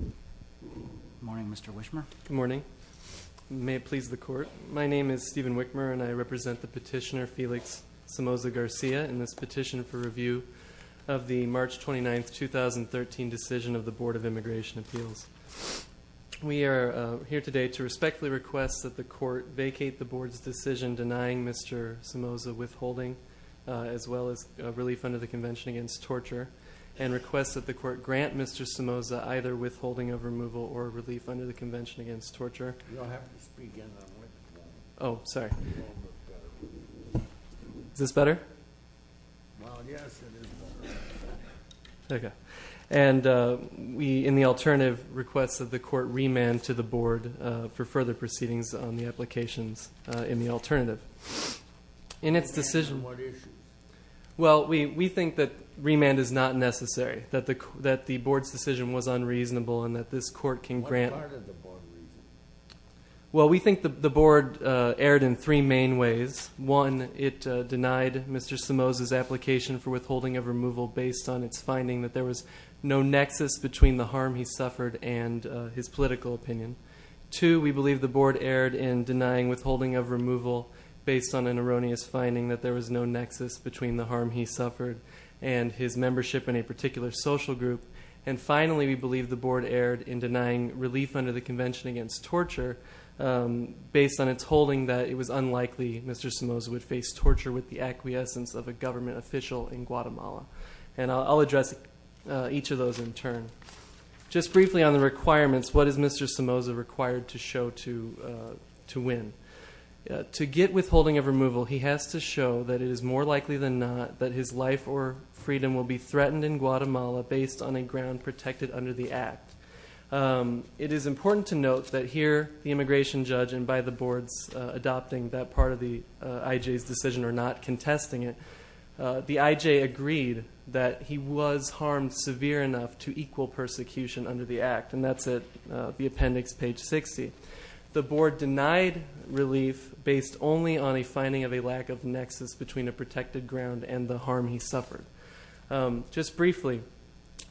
Good morning, Mr. Wishmer. Good morning. May it please the Court, my name is Stephen Wickmer and I represent the petitioner Felix Somoza-Garcia in this petition for review of the March 29, 2013 decision of the Board of Immigration Appeals. We are here today to respectfully request that the Court vacate the Board's decision denying Mr. Somoza withholding, as well as relief under the Convention Against Torture, and request that the Court grant Mr. Somoza either withholding of removal or relief under the Convention Against Torture. You don't have to speak in that way. Oh, sorry. Is this better? Well, yes, it is. Okay. And we, in the alternative, request that the Court remand to the Board for further proceedings on the applications in the alternative. Remand for what issue? Well, we think that remand is not necessary, that the Board's decision was unreasonable and that this Court can grant... What part of the Board is unreasonable? Well, we think the Board erred in three main ways. One, it denied Mr. Somoza's application for withholding of removal based on its finding that there was no nexus between the harm he suffered and his political opinion. Two, we believe the Board erred in denying withholding of removal based on an erroneous finding that there was no nexus between the harm he suffered and his membership in a particular social group. And finally, we believe the Board erred in denying relief under the Convention Against Torture based on its holding that it was unlikely Mr. Somoza would face torture with the acquiescence of a government official in Guatemala. And I'll address each of those in turn. Just briefly on the requirements, what is Mr. Somoza required to show to win? To get withholding of removal, he has to show that it is more likely than not that his life or freedom will be threatened in Guatemala based on a ground protected under the Act. It is important to note that here, the immigration judge and by the Board's adopting that part of the IJ's decision or not contesting it, the IJ agreed that he was harmed severe enough to equal persecution under the Act. And that's at the appendix, page 60. The Board denied relief based only on a finding of a lack of nexus between a protected ground and the harm he suffered. Just briefly,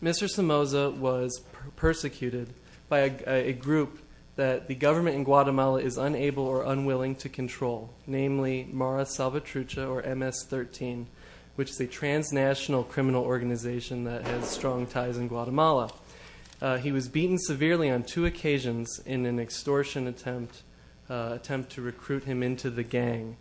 Mr. Somoza was persecuted by a group that the government in Guatemala is unable or unwilling to control, namely Mara Salvatrucha, or MS-13, which is a transnational criminal organization that has strong ties in Guatemala. He was beaten severely on two occasions in an extortion attempt to recruit him into the gang.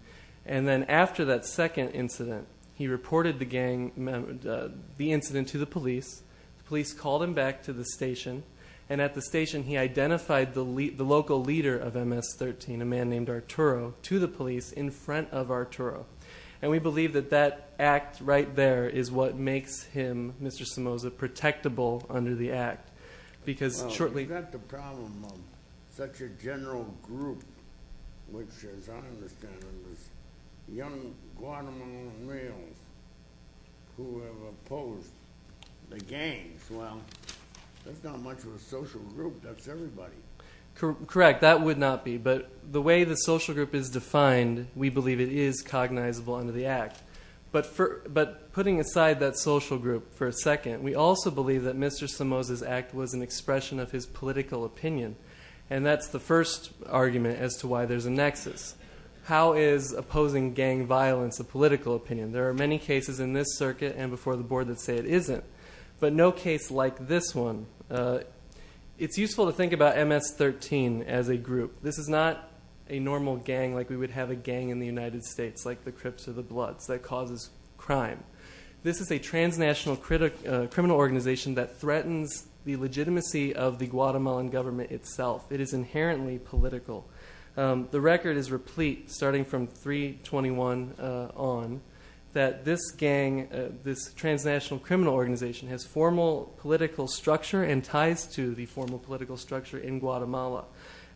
And then after that second incident, he reported the incident to the police. The police called him back to the station. And at the station, he identified the local leader of MS-13, a man named Arturo, to the police in front of Arturo. And we believe that that act right there is what makes him, Mr. Somoza, protectable under the Act. Well, we've got the problem of such a general group, which as I understand it is young Guatemalan males who have opposed the gangs. Well, that's not much of a social group. That's everybody. Correct, that would not be. But the way the social group is defined, we believe it is cognizable under the Act. But putting aside that social group for a second, we also believe that Mr. Somoza's act was an expression of his political opinion. And that's the first argument as to why there's a nexus. How is opposing gang violence a political opinion? There are many cases in this circuit and before the board that say it isn't, but no case like this one. It's useful to think about MS-13 as a group. This is not a normal gang like we would have a gang in the United States, like the Crips or the Bloods, that causes crime. This is a transnational criminal organization that threatens the legitimacy of the Guatemalan government itself. It is inherently political. The record is replete starting from 3-21 on that this gang, this transnational criminal organization, has formal political structure and ties to the formal political structure in Guatemala.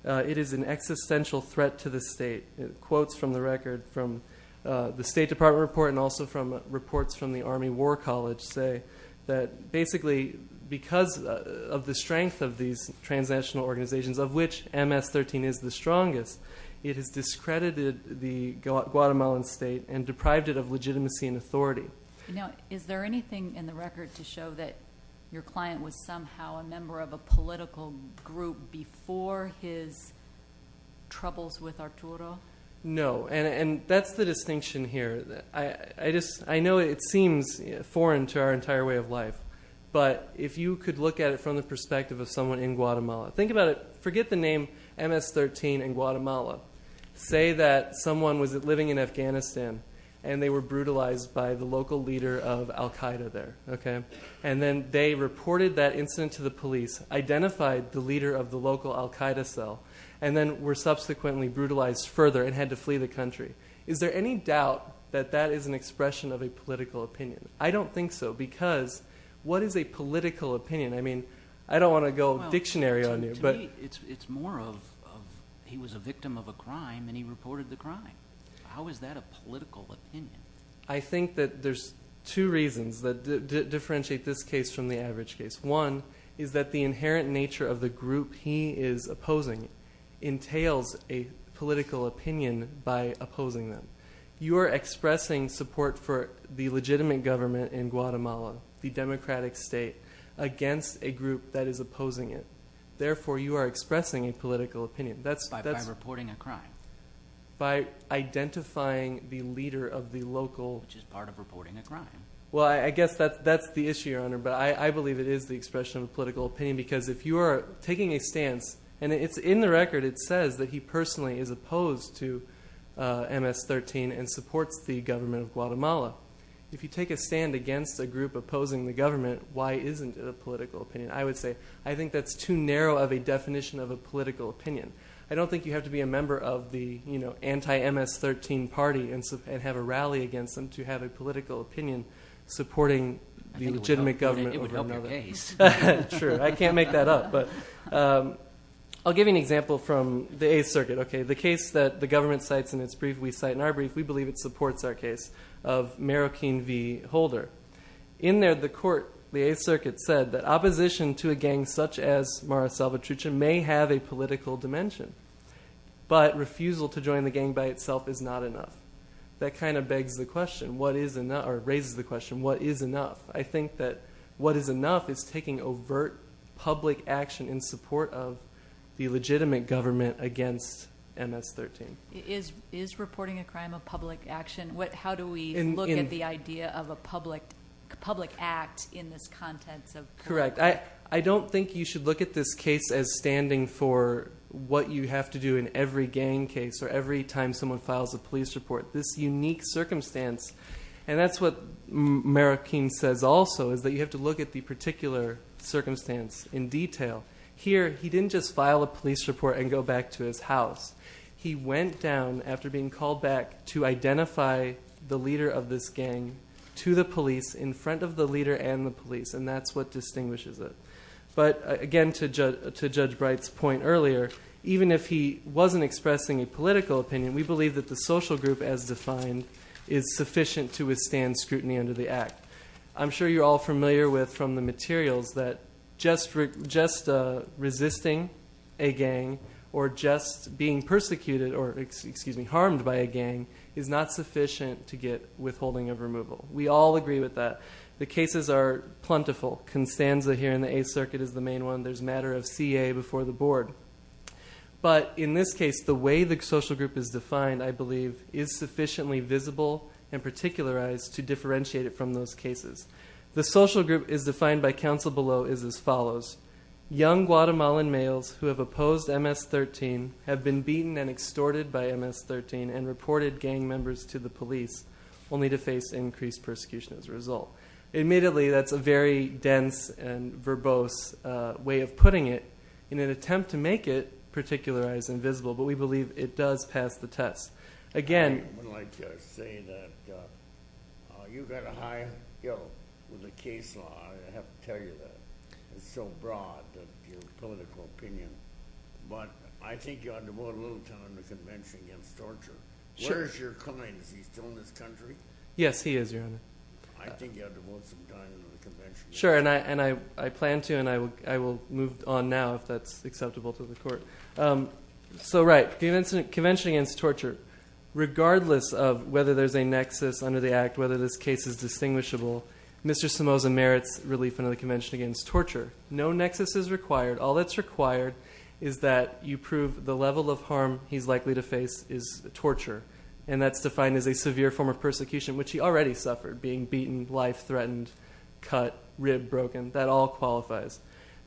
It is an existential threat to the state. Quotes from the record from the State Department report and also from reports from the Army War College say that basically because of the strength of these transnational organizations, of which MS-13 is the strongest, it has discredited the Guatemalan state and deprived it of legitimacy and authority. Is there anything in the record to show that your client was somehow a member of a political group before his troubles with Arturo? No. That's the distinction here. I know it seems foreign to our entire way of life, but if you could look at it from the perspective of someone in Guatemala. Think about it. Forget the name MS-13 in Guatemala. Say that someone was living in Afghanistan and they were brutalized by the local leader of Al-Qaeda there. Then they reported that incident to the police, identified the leader of the local Al-Qaeda cell, and then were subsequently brutalized further and had to flee the country. Is there any doubt that that is an expression of a political opinion? I don't think so because what is a political opinion? I don't want to go dictionary on you. To me, it's more of he was a victim of a crime and he reported the crime. How is that a political opinion? I think that there's two reasons that differentiate this case from the average case. One is that the inherent nature of the group he is opposing entails a political opinion by opposing them. You are expressing support for the legitimate government in Guatemala, the democratic state, against a group that is opposing it. Therefore, you are expressing a political opinion. By reporting a crime. By identifying the leader of the local. Which is part of reporting a crime. Well, I guess that's the issue, Your Honor. But I believe it is the expression of a political opinion because if you are taking a stance, and in the record it says that he personally is opposed to MS-13 and supports the government of Guatemala. If you take a stand against a group opposing the government, why isn't it a political opinion? I would say I think that's too narrow of a definition of a political opinion. I don't think you have to be a member of the anti-MS-13 party and have a rally against them to have a political opinion supporting the legitimate government. It would help your case. Sure. I can't make that up. I'll give you an example from the Eighth Circuit. The case that the government cites in its brief we cite in our brief, we believe it supports our case of Marroquin v. Holder. In there the court, the Eighth Circuit, said that opposition to a gang such as Mara Salvatrucha may have a political dimension. But refusal to join the gang by itself is not enough. That kind of raises the question, what is enough? I think that what is enough is taking overt public action in support of the legitimate government against MS-13. Is reporting a crime a public action? How do we look at the idea of a public act in this context? Correct. I don't think you should look at this case as standing for what you have to do in every gang case or every time someone files a police report. This unique circumstance, and that's what Marroquin says also, is that you have to look at the particular circumstance in detail. Here, he didn't just file a police report and go back to his house. He went down after being called back to identify the leader of this gang to the police in front of the leader and the police. And that's what distinguishes it. But again, to Judge Bright's point earlier, even if he wasn't expressing a political opinion, we believe that the social group as defined is sufficient to withstand scrutiny under the act. I'm sure you're all familiar with from the materials that just resisting a gang or just being persecuted or, excuse me, harmed by a gang is not sufficient to get withholding of removal. We all agree with that. The cases are plentiful. Constanza here in the Eighth Circuit is the main one. There's a matter of CA before the board. But in this case, the way the social group is defined, I believe, is sufficiently visible and particularized to differentiate it from those cases. The social group as defined by counsel below is as follows. Young Guatemalan males who have opposed MS-13 have been beaten and extorted by MS-13 and reported gang members to the police, only to face increased persecution as a result. Admittedly, that's a very dense and verbose way of putting it. In an attempt to make it particularized and visible, but we believe it does pass the test. Again- I would like to say that you've got a high, you know, with the case law. I have to tell you that it's so broad, your political opinion. But I think you ought to vote a little time in the convention against torture. Sure. Where is your client? Is he still in this country? Yes, he is, Your Honor. I think you ought to vote some time in the convention. Sure, and I plan to, and I will move on now if that's acceptable to the court. So, right, convention against torture. Regardless of whether there's a nexus under the act, whether this case is distinguishable, Mr. Somoza merits relief under the convention against torture. No nexus is required. All that's required is that you prove the level of harm he's likely to face is torture. And that's defined as a severe form of persecution, which he already suffered, being beaten, life-threatened, cut, ribbed, broken. That all qualifies.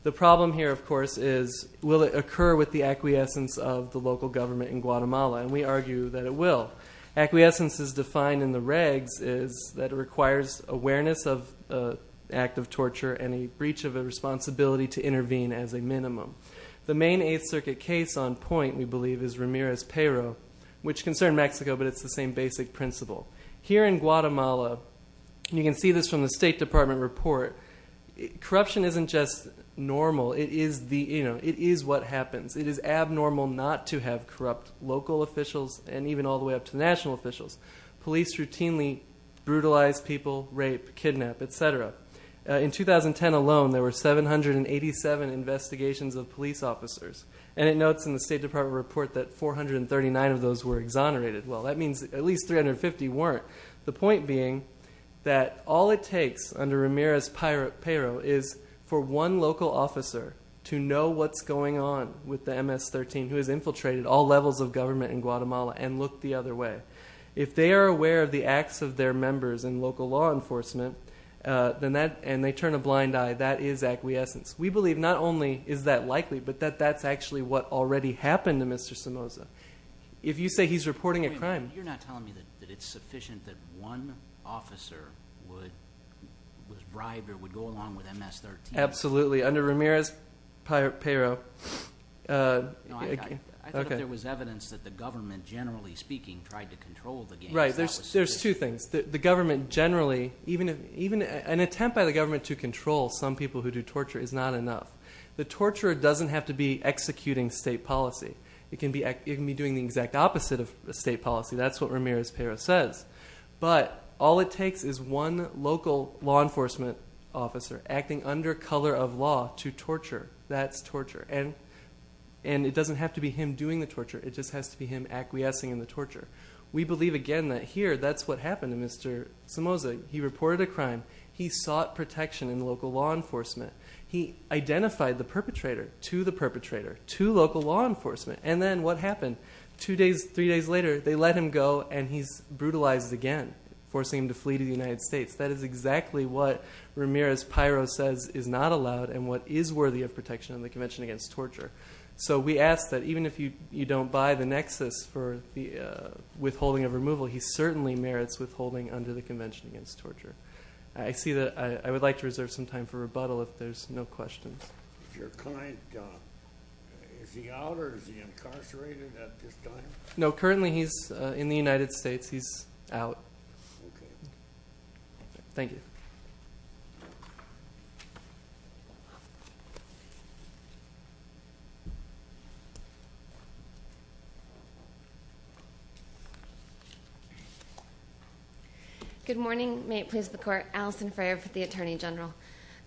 The problem here, of course, is will it occur with the acquiescence of the local government in Guatemala? And we argue that it will. Acquiescence is defined in the regs is that it requires awareness of the act of torture and a breach of a responsibility to intervene as a minimum. The main Eighth Circuit case on point, we believe, is Ramirez-Pero, which concerned Mexico, but it's the same basic principle. Here in Guatemala, and you can see this from the State Department report, corruption isn't just normal. It is what happens. It is abnormal not to have corrupt local officials and even all the way up to national officials. Police routinely brutalize people, rape, kidnap, et cetera. In 2010 alone, there were 787 investigations of police officers, and it notes in the State Department report that 439 of those were exonerated. Well, that means at least 350 weren't. The point being that all it takes under Ramirez-Pero is for one local officer to know what's going on with the MS-13 who has infiltrated all levels of government in Guatemala and looked the other way. If they are aware of the acts of their members in local law enforcement and they turn a blind eye, that is acquiescence. We believe not only is that likely, but that that's actually what already happened to Mr. Somoza. If you say he's reporting a crime... You're not telling me that it's sufficient that one officer was bribed or would go along with MS-13. Absolutely. Under Ramirez-Pero... I thought there was evidence that the government, generally speaking, tried to control the games. Right. There's two things. The government generally... An attempt by the government to control some people who do torture is not enough. The torturer doesn't have to be executing state policy. It can be doing the exact opposite of state policy. That's what Ramirez-Pero says. But all it takes is one local law enforcement officer acting under color of law to torture. That's torture. And it doesn't have to be him doing the torture. It just has to be him acquiescing in the torture. We believe, again, that here, that's what happened to Mr. Somoza. He reported a crime. He sought protection in local law enforcement. He identified the perpetrator to the perpetrator to local law enforcement. And then what happened? Two days, three days later, they let him go and he's brutalized again, forcing him to flee to the United States. That is exactly what Ramirez-Pero says is not allowed and what is worthy of protection in the Convention Against Torture. So we ask that even if you don't buy the nexus for withholding of removal, he certainly merits withholding under the Convention Against Torture. I see that I would like to reserve some time for rebuttal if there's no questions. Is your client, is he out or is he incarcerated at this time? No, currently he's in the United States. He's out. Okay. Thank you. Good morning. May it please the Court. Allison Frayer for the Attorney General.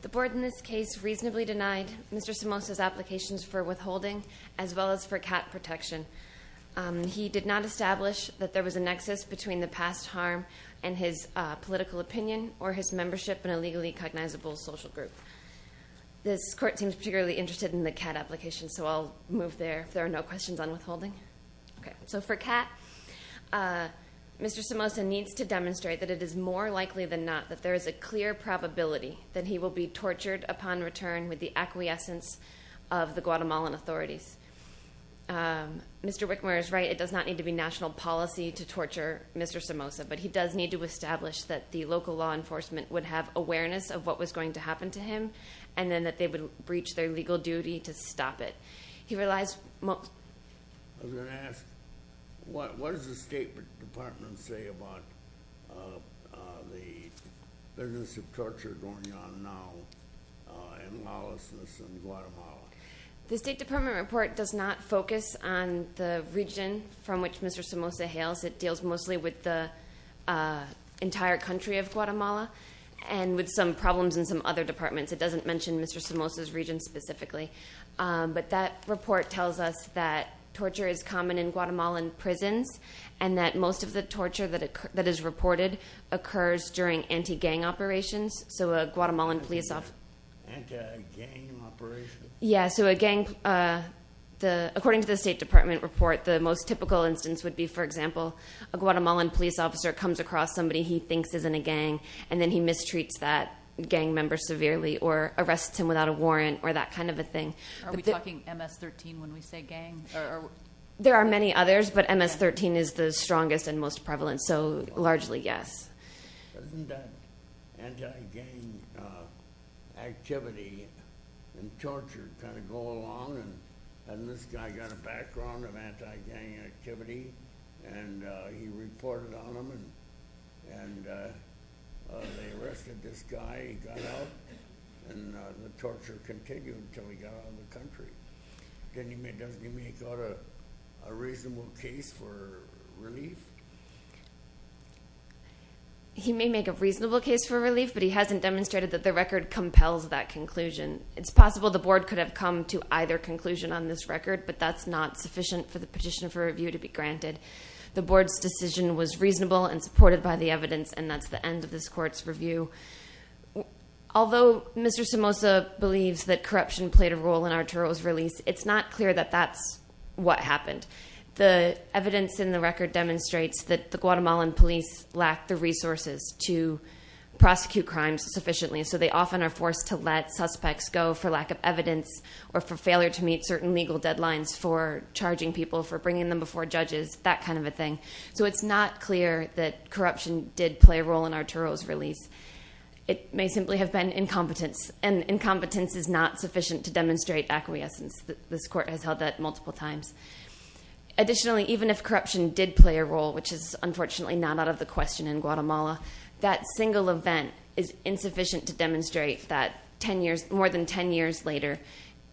The Board in this case reasonably denied Mr. Somoza's applications for withholding as well as for cat protection. He did not establish that there was a nexus between the past harm and his political opinion or his membership in a legally cognizable social group. This Court seems particularly interested in the cat application, so I'll move there if there are no questions on withholding. Okay. So for cat, Mr. Somoza needs to demonstrate that it is more likely than not that there is a clear probability that he will be tortured upon return with the acquiescence of the Guatemalan authorities. Mr. Wickmer is right. It does not need to be national policy to torture Mr. Somoza, but he does need to establish that the local law enforcement would have awareness of what was going to happen to him and then that they would breach their legal duty to stop it. He relies most... I was going to ask, what does the State Department say about the business of torture going on now in Laos and Guatemala? The State Department report does not focus on the region from which Mr. Somoza hails. It deals mostly with the entire country of Guatemala and with some problems in some other departments. It doesn't mention Mr. Somoza's region specifically. But that report tells us that torture is common in Guatemalan prisons and that most of the torture that is reported occurs during anti-gang operations. So a Guatemalan police officer... Anti-gang operations? Yeah, so a gang... According to the State Department report, the most typical instance would be, for example, a Guatemalan police officer comes across somebody he thinks is in a gang and then he mistreats that gang member severely or arrests him without a warrant or that kind of a thing. Are we talking MS-13 when we say gang? There are many others, but MS-13 is the strongest and most prevalent, so largely yes. Doesn't that anti-gang activity and torture kind of go along? And this guy got a background of anti-gang activity and he reported on them and they arrested this guy, he got out, and the torture continued until he got out of the country. Doesn't he make a reasonable case for relief? He may make a reasonable case for relief, but he hasn't demonstrated that the record compels that conclusion. It's possible the board could have come to either conclusion on this record, but that's not sufficient for the petition for review to be granted. The board's decision was reasonable and supported by the evidence, and that's the end of this court's review. Although Mr. Somoza believes that corruption played a role in Arturo's release, it's not clear that that's what happened. The evidence in the record demonstrates that the Guatemalan police lack the resources to prosecute crimes sufficiently, so they often are forced to let suspects go for lack of evidence or for failure to meet certain legal deadlines for charging people, for bringing them before judges, that kind of a thing. So it's not clear that corruption did play a role in Arturo's release. It may simply have been incompetence, and incompetence is not sufficient to demonstrate acquiescence. This court has held that multiple times. Additionally, even if corruption did play a role, which is unfortunately not out of the question in Guatemala, that single event is insufficient to demonstrate that more than ten years later,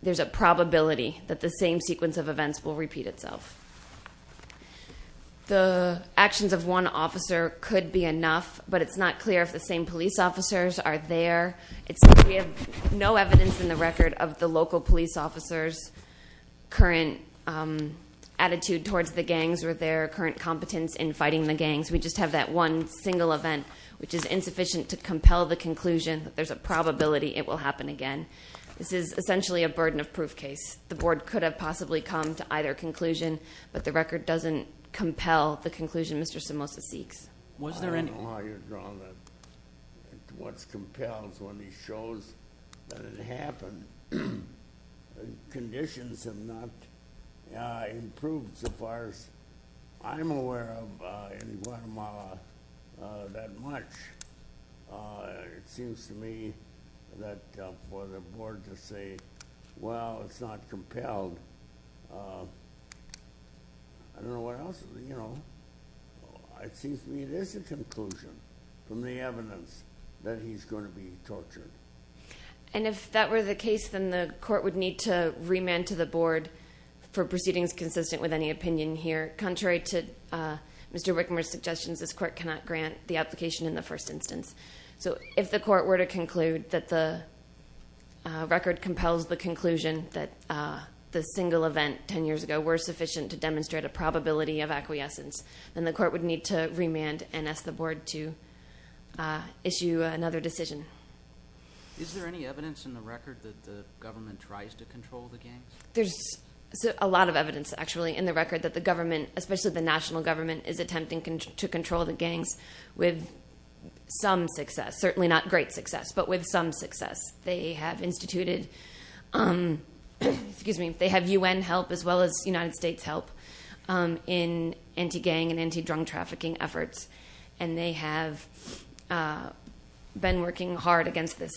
there's a probability that the same sequence of events will repeat itself. The actions of one officer could be enough, but it's not clear if the same police officers are there. We have no evidence in the record of the local police officers' current attitude towards the gangs or their current competence in fighting the gangs. We just have that one single event, which is insufficient to compel the conclusion that there's a probability it will happen again. This is essentially a burden of proof case. The board could have possibly come to either conclusion, but the record doesn't compel the conclusion Mr. Somoza seeks. I don't know how you draw that. What's compelled is when he shows that it happened. Conditions have not improved so far as I'm aware of in Guatemala that much. It seems to me that for the board to say, well, it's not compelled. I don't know what else. It seems to me there's a conclusion from the evidence that he's going to be tortured. If that were the case, then the court would need to remand to the board for proceedings consistent with any opinion here. Contrary to Mr. Wickmer's suggestions, this court cannot grant the application in the first instance. If the court were to conclude that the record compels the conclusion that the single event ten years ago were sufficient to demonstrate a probability of acquiescence, then the court would need to remand and ask the board to issue another decision. Is there any evidence in the record that the government tries to control the gangs? There's a lot of evidence actually in the record that the government, especially the national government, is attempting to control the gangs with some success. Certainly not great success, but with some success. They have instituted UN help as well as United States help in anti-gang and anti-drug trafficking efforts, and they have been working hard against this.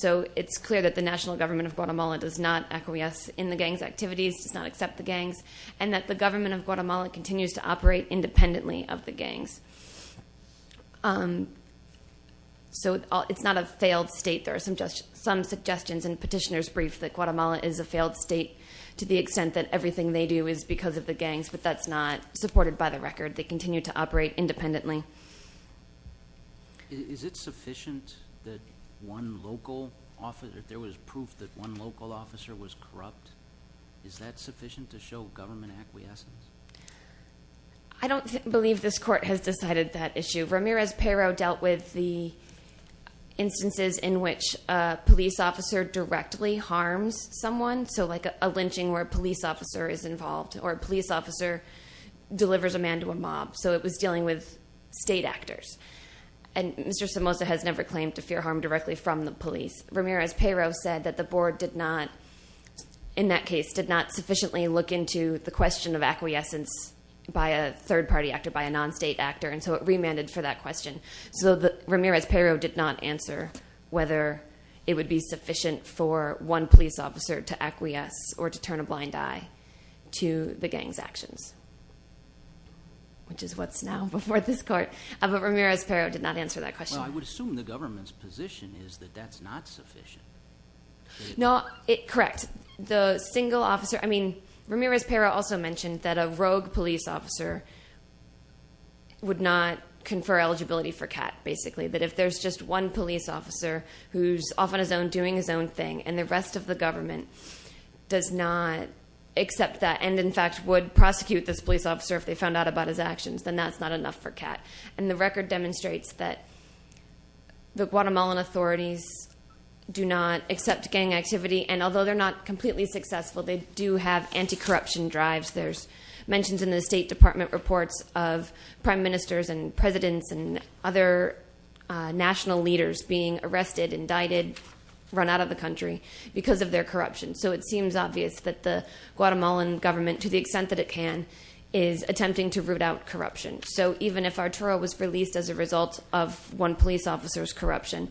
So it's clear that the national government of Guatemala does not acquiesce in the gangs' activities, does not accept the gangs, and that the government of Guatemala continues to operate independently of the gangs. So it's not a failed state. There are some suggestions in Petitioner's brief that Guatemala is a failed state to the extent that everything they do is because of the gangs, but that's not supported by the record. They continue to operate independently. Is it sufficient that one local officer, if there was proof that one local officer was corrupt, is that sufficient to show government acquiescence? I don't believe this court has decided that issue. Ramirez-Pero dealt with the instances in which a police officer directly harms someone, so like a lynching where a police officer is involved, or a police officer delivers a man to a mob. So it was dealing with state actors. And Mr. Somoza has never claimed to fear harm directly from the police. Ramirez-Pero said that the board did not, in that case, did not sufficiently look into the question of acquiescence by a third-party actor, by a non-state actor, and so it remanded for that question. So Ramirez-Pero did not answer whether it would be sufficient for one police officer to acquiesce or to turn a blind eye to the gangs' actions, which is what's now before this court. But Ramirez-Pero did not answer that question. So I would assume the government's position is that that's not sufficient. No, correct. The single officer – I mean, Ramirez-Pero also mentioned that a rogue police officer would not confer eligibility for CAT, basically, that if there's just one police officer who's off on his own, doing his own thing, and the rest of the government does not accept that and, in fact, would prosecute this police officer if they found out about his actions, then that's not enough for CAT. And the record demonstrates that the Guatemalan authorities do not accept gang activity, and although they're not completely successful, they do have anti-corruption drives. There's mentions in the State Department reports of prime ministers and presidents and other national leaders being arrested, indicted, run out of the country because of their corruption. So it seems obvious that the Guatemalan government, to the extent that it can, is attempting to root out corruption. So even if Arturo was released as a result of one police officer's corruption,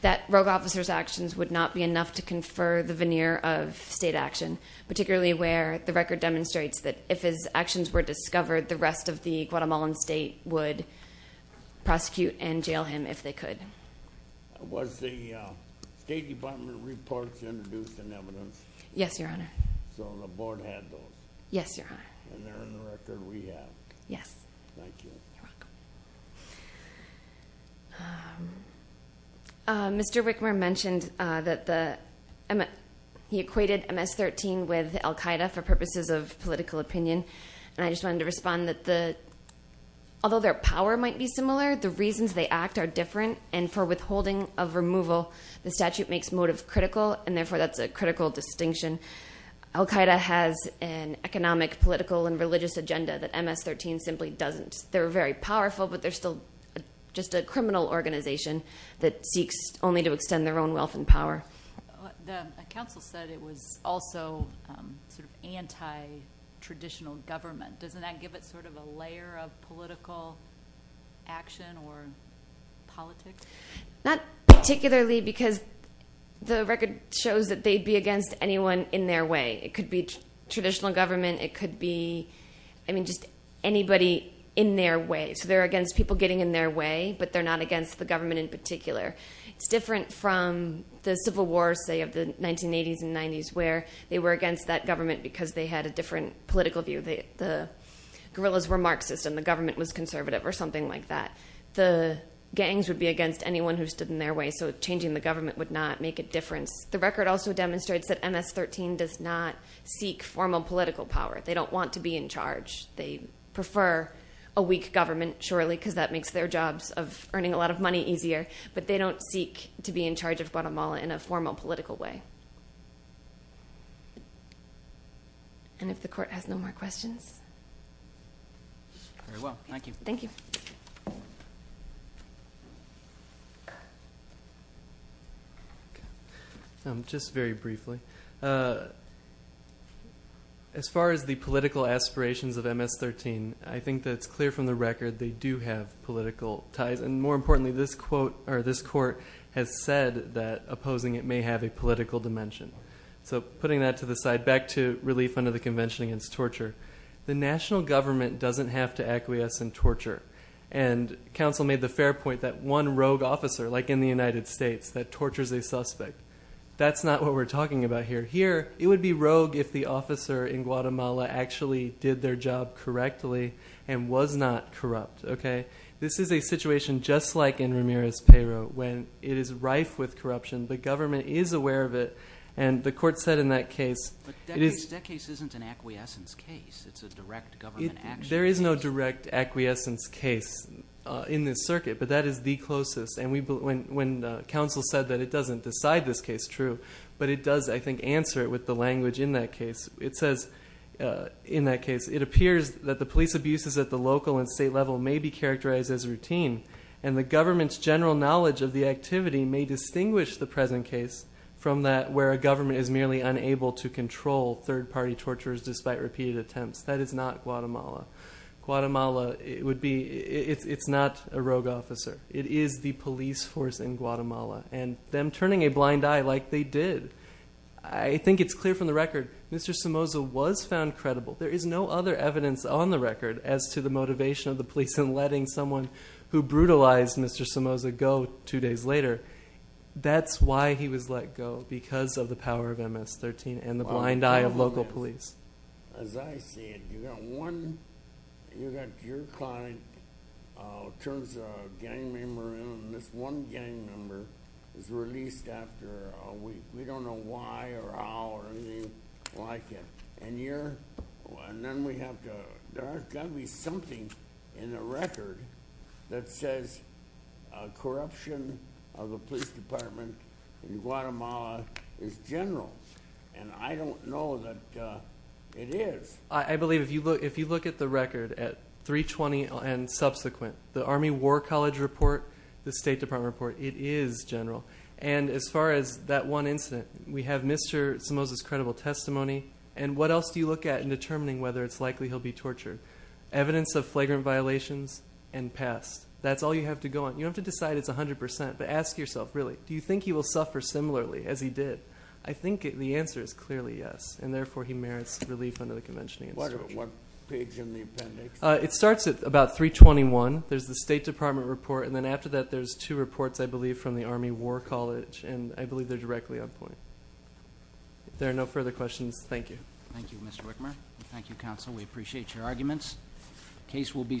that rogue officer's actions would not be enough to confer the veneer of state action, particularly where the record demonstrates that if his actions were discovered, the rest of the Guatemalan state would prosecute and jail him if they could. Was the State Department reports introduced in evidence? Yes, Your Honor. So the board had those? Yes, Your Honor. And they're in the record we have? Yes. Thank you. You're welcome. Mr. Wickmer mentioned that he equated MS-13 with al-Qaeda for purposes of political opinion, and I just wanted to respond that although their power might be similar, the reasons they act are different, and for withholding of removal the statute makes motive critical, and therefore that's a critical distinction. Al-Qaeda has an economic, political, and religious agenda that MS-13 simply doesn't. They're very powerful, but they're still just a criminal organization that seeks only to extend their own wealth and power. The counsel said it was also sort of anti-traditional government. Doesn't that give it sort of a layer of political action or politics? Not particularly because the record shows that they'd be against anyone in their way. It could be traditional government. It could be, I mean, just anybody in their way. So they're against people getting in their way, but they're not against the government in particular. It's different from the Civil War, say, of the 1980s and 90s, where they were against that government because they had a different political view. The guerrillas were Marxist and the government was conservative or something like that. The gangs would be against anyone who stood in their way, so changing the government would not make a difference. The record also demonstrates that MS-13 does not seek formal political power. They don't want to be in charge. They prefer a weak government, surely, because that makes their jobs of earning a lot of money easier, but they don't seek to be in charge of Guatemala in a formal political way. And if the Court has no more questions. Very well. Thank you. Thank you. Just very briefly, as far as the political aspirations of MS-13, I think that it's clear from the record they do have political ties, and more importantly, this Court has said that opposing it may have a political dimension. So, putting that to the side, back to relief under the Convention against Torture. The national government doesn't have to acquiesce in torture, and counsel made the fair point that one rogue officer, like in the United States, that tortures a suspect. That's not what we're talking about here. Here, it would be rogue if the officer in Guatemala actually did their job correctly and was not corrupt. This is a situation just like in Ramirez-Peyro, when it is rife with corruption, the government is aware of it, and the Court said in that case... But that case isn't an acquiescence case. It's a direct government action case. There is no direct acquiescence case in this circuit, but that is the closest. And when counsel said that it doesn't decide this case true, but it does, I think, answer it with the language in that case. It says, in that case, it appears that the police abuses at the local and state level may be characterized as routine, and the government's general knowledge of the activity may distinguish the present case from that where a government is merely unable to control third-party torturers despite repeated attempts. That is not Guatemala. Guatemala, it's not a rogue officer. It is the police force in Guatemala, and them turning a blind eye like they did. I think it's clear from the record, Mr. Somoza was found credible. There is no other evidence on the record as to the motivation of the police in letting someone who brutalized Mr. Somoza go two days later. That's why he was let go, because of the power of MS-13 and the blind eye of local police. As I see it, you've got one, you've got your client, turns a gang member in, and this one gang member is released after a week. We don't know why or how or anything like it. There's got to be something in the record that says corruption of the police department in Guatemala is general, and I don't know that it is. I believe if you look at the record at 320 and subsequent, the Army War College report, the State Department report, it is general. As far as that one incident, we have Mr. Somoza's credible testimony, and what else do you look at in determining whether it's likely he'll be tortured? Evidence of flagrant violations and past. That's all you have to go on. You don't have to decide it's 100%, but ask yourself, really, do you think he will suffer similarly as he did? I think the answer is clearly yes, and therefore he merits relief under the convention against torture. What page in the appendix? It starts at about 321. There's the State Department report, and then after that there's two reports, I believe, from the Army War College, and I believe they're directly on point. If there are no further questions, thank you. Thank you, Mr. Wickmer. Thank you, counsel. We appreciate your arguments. The case will be submitted.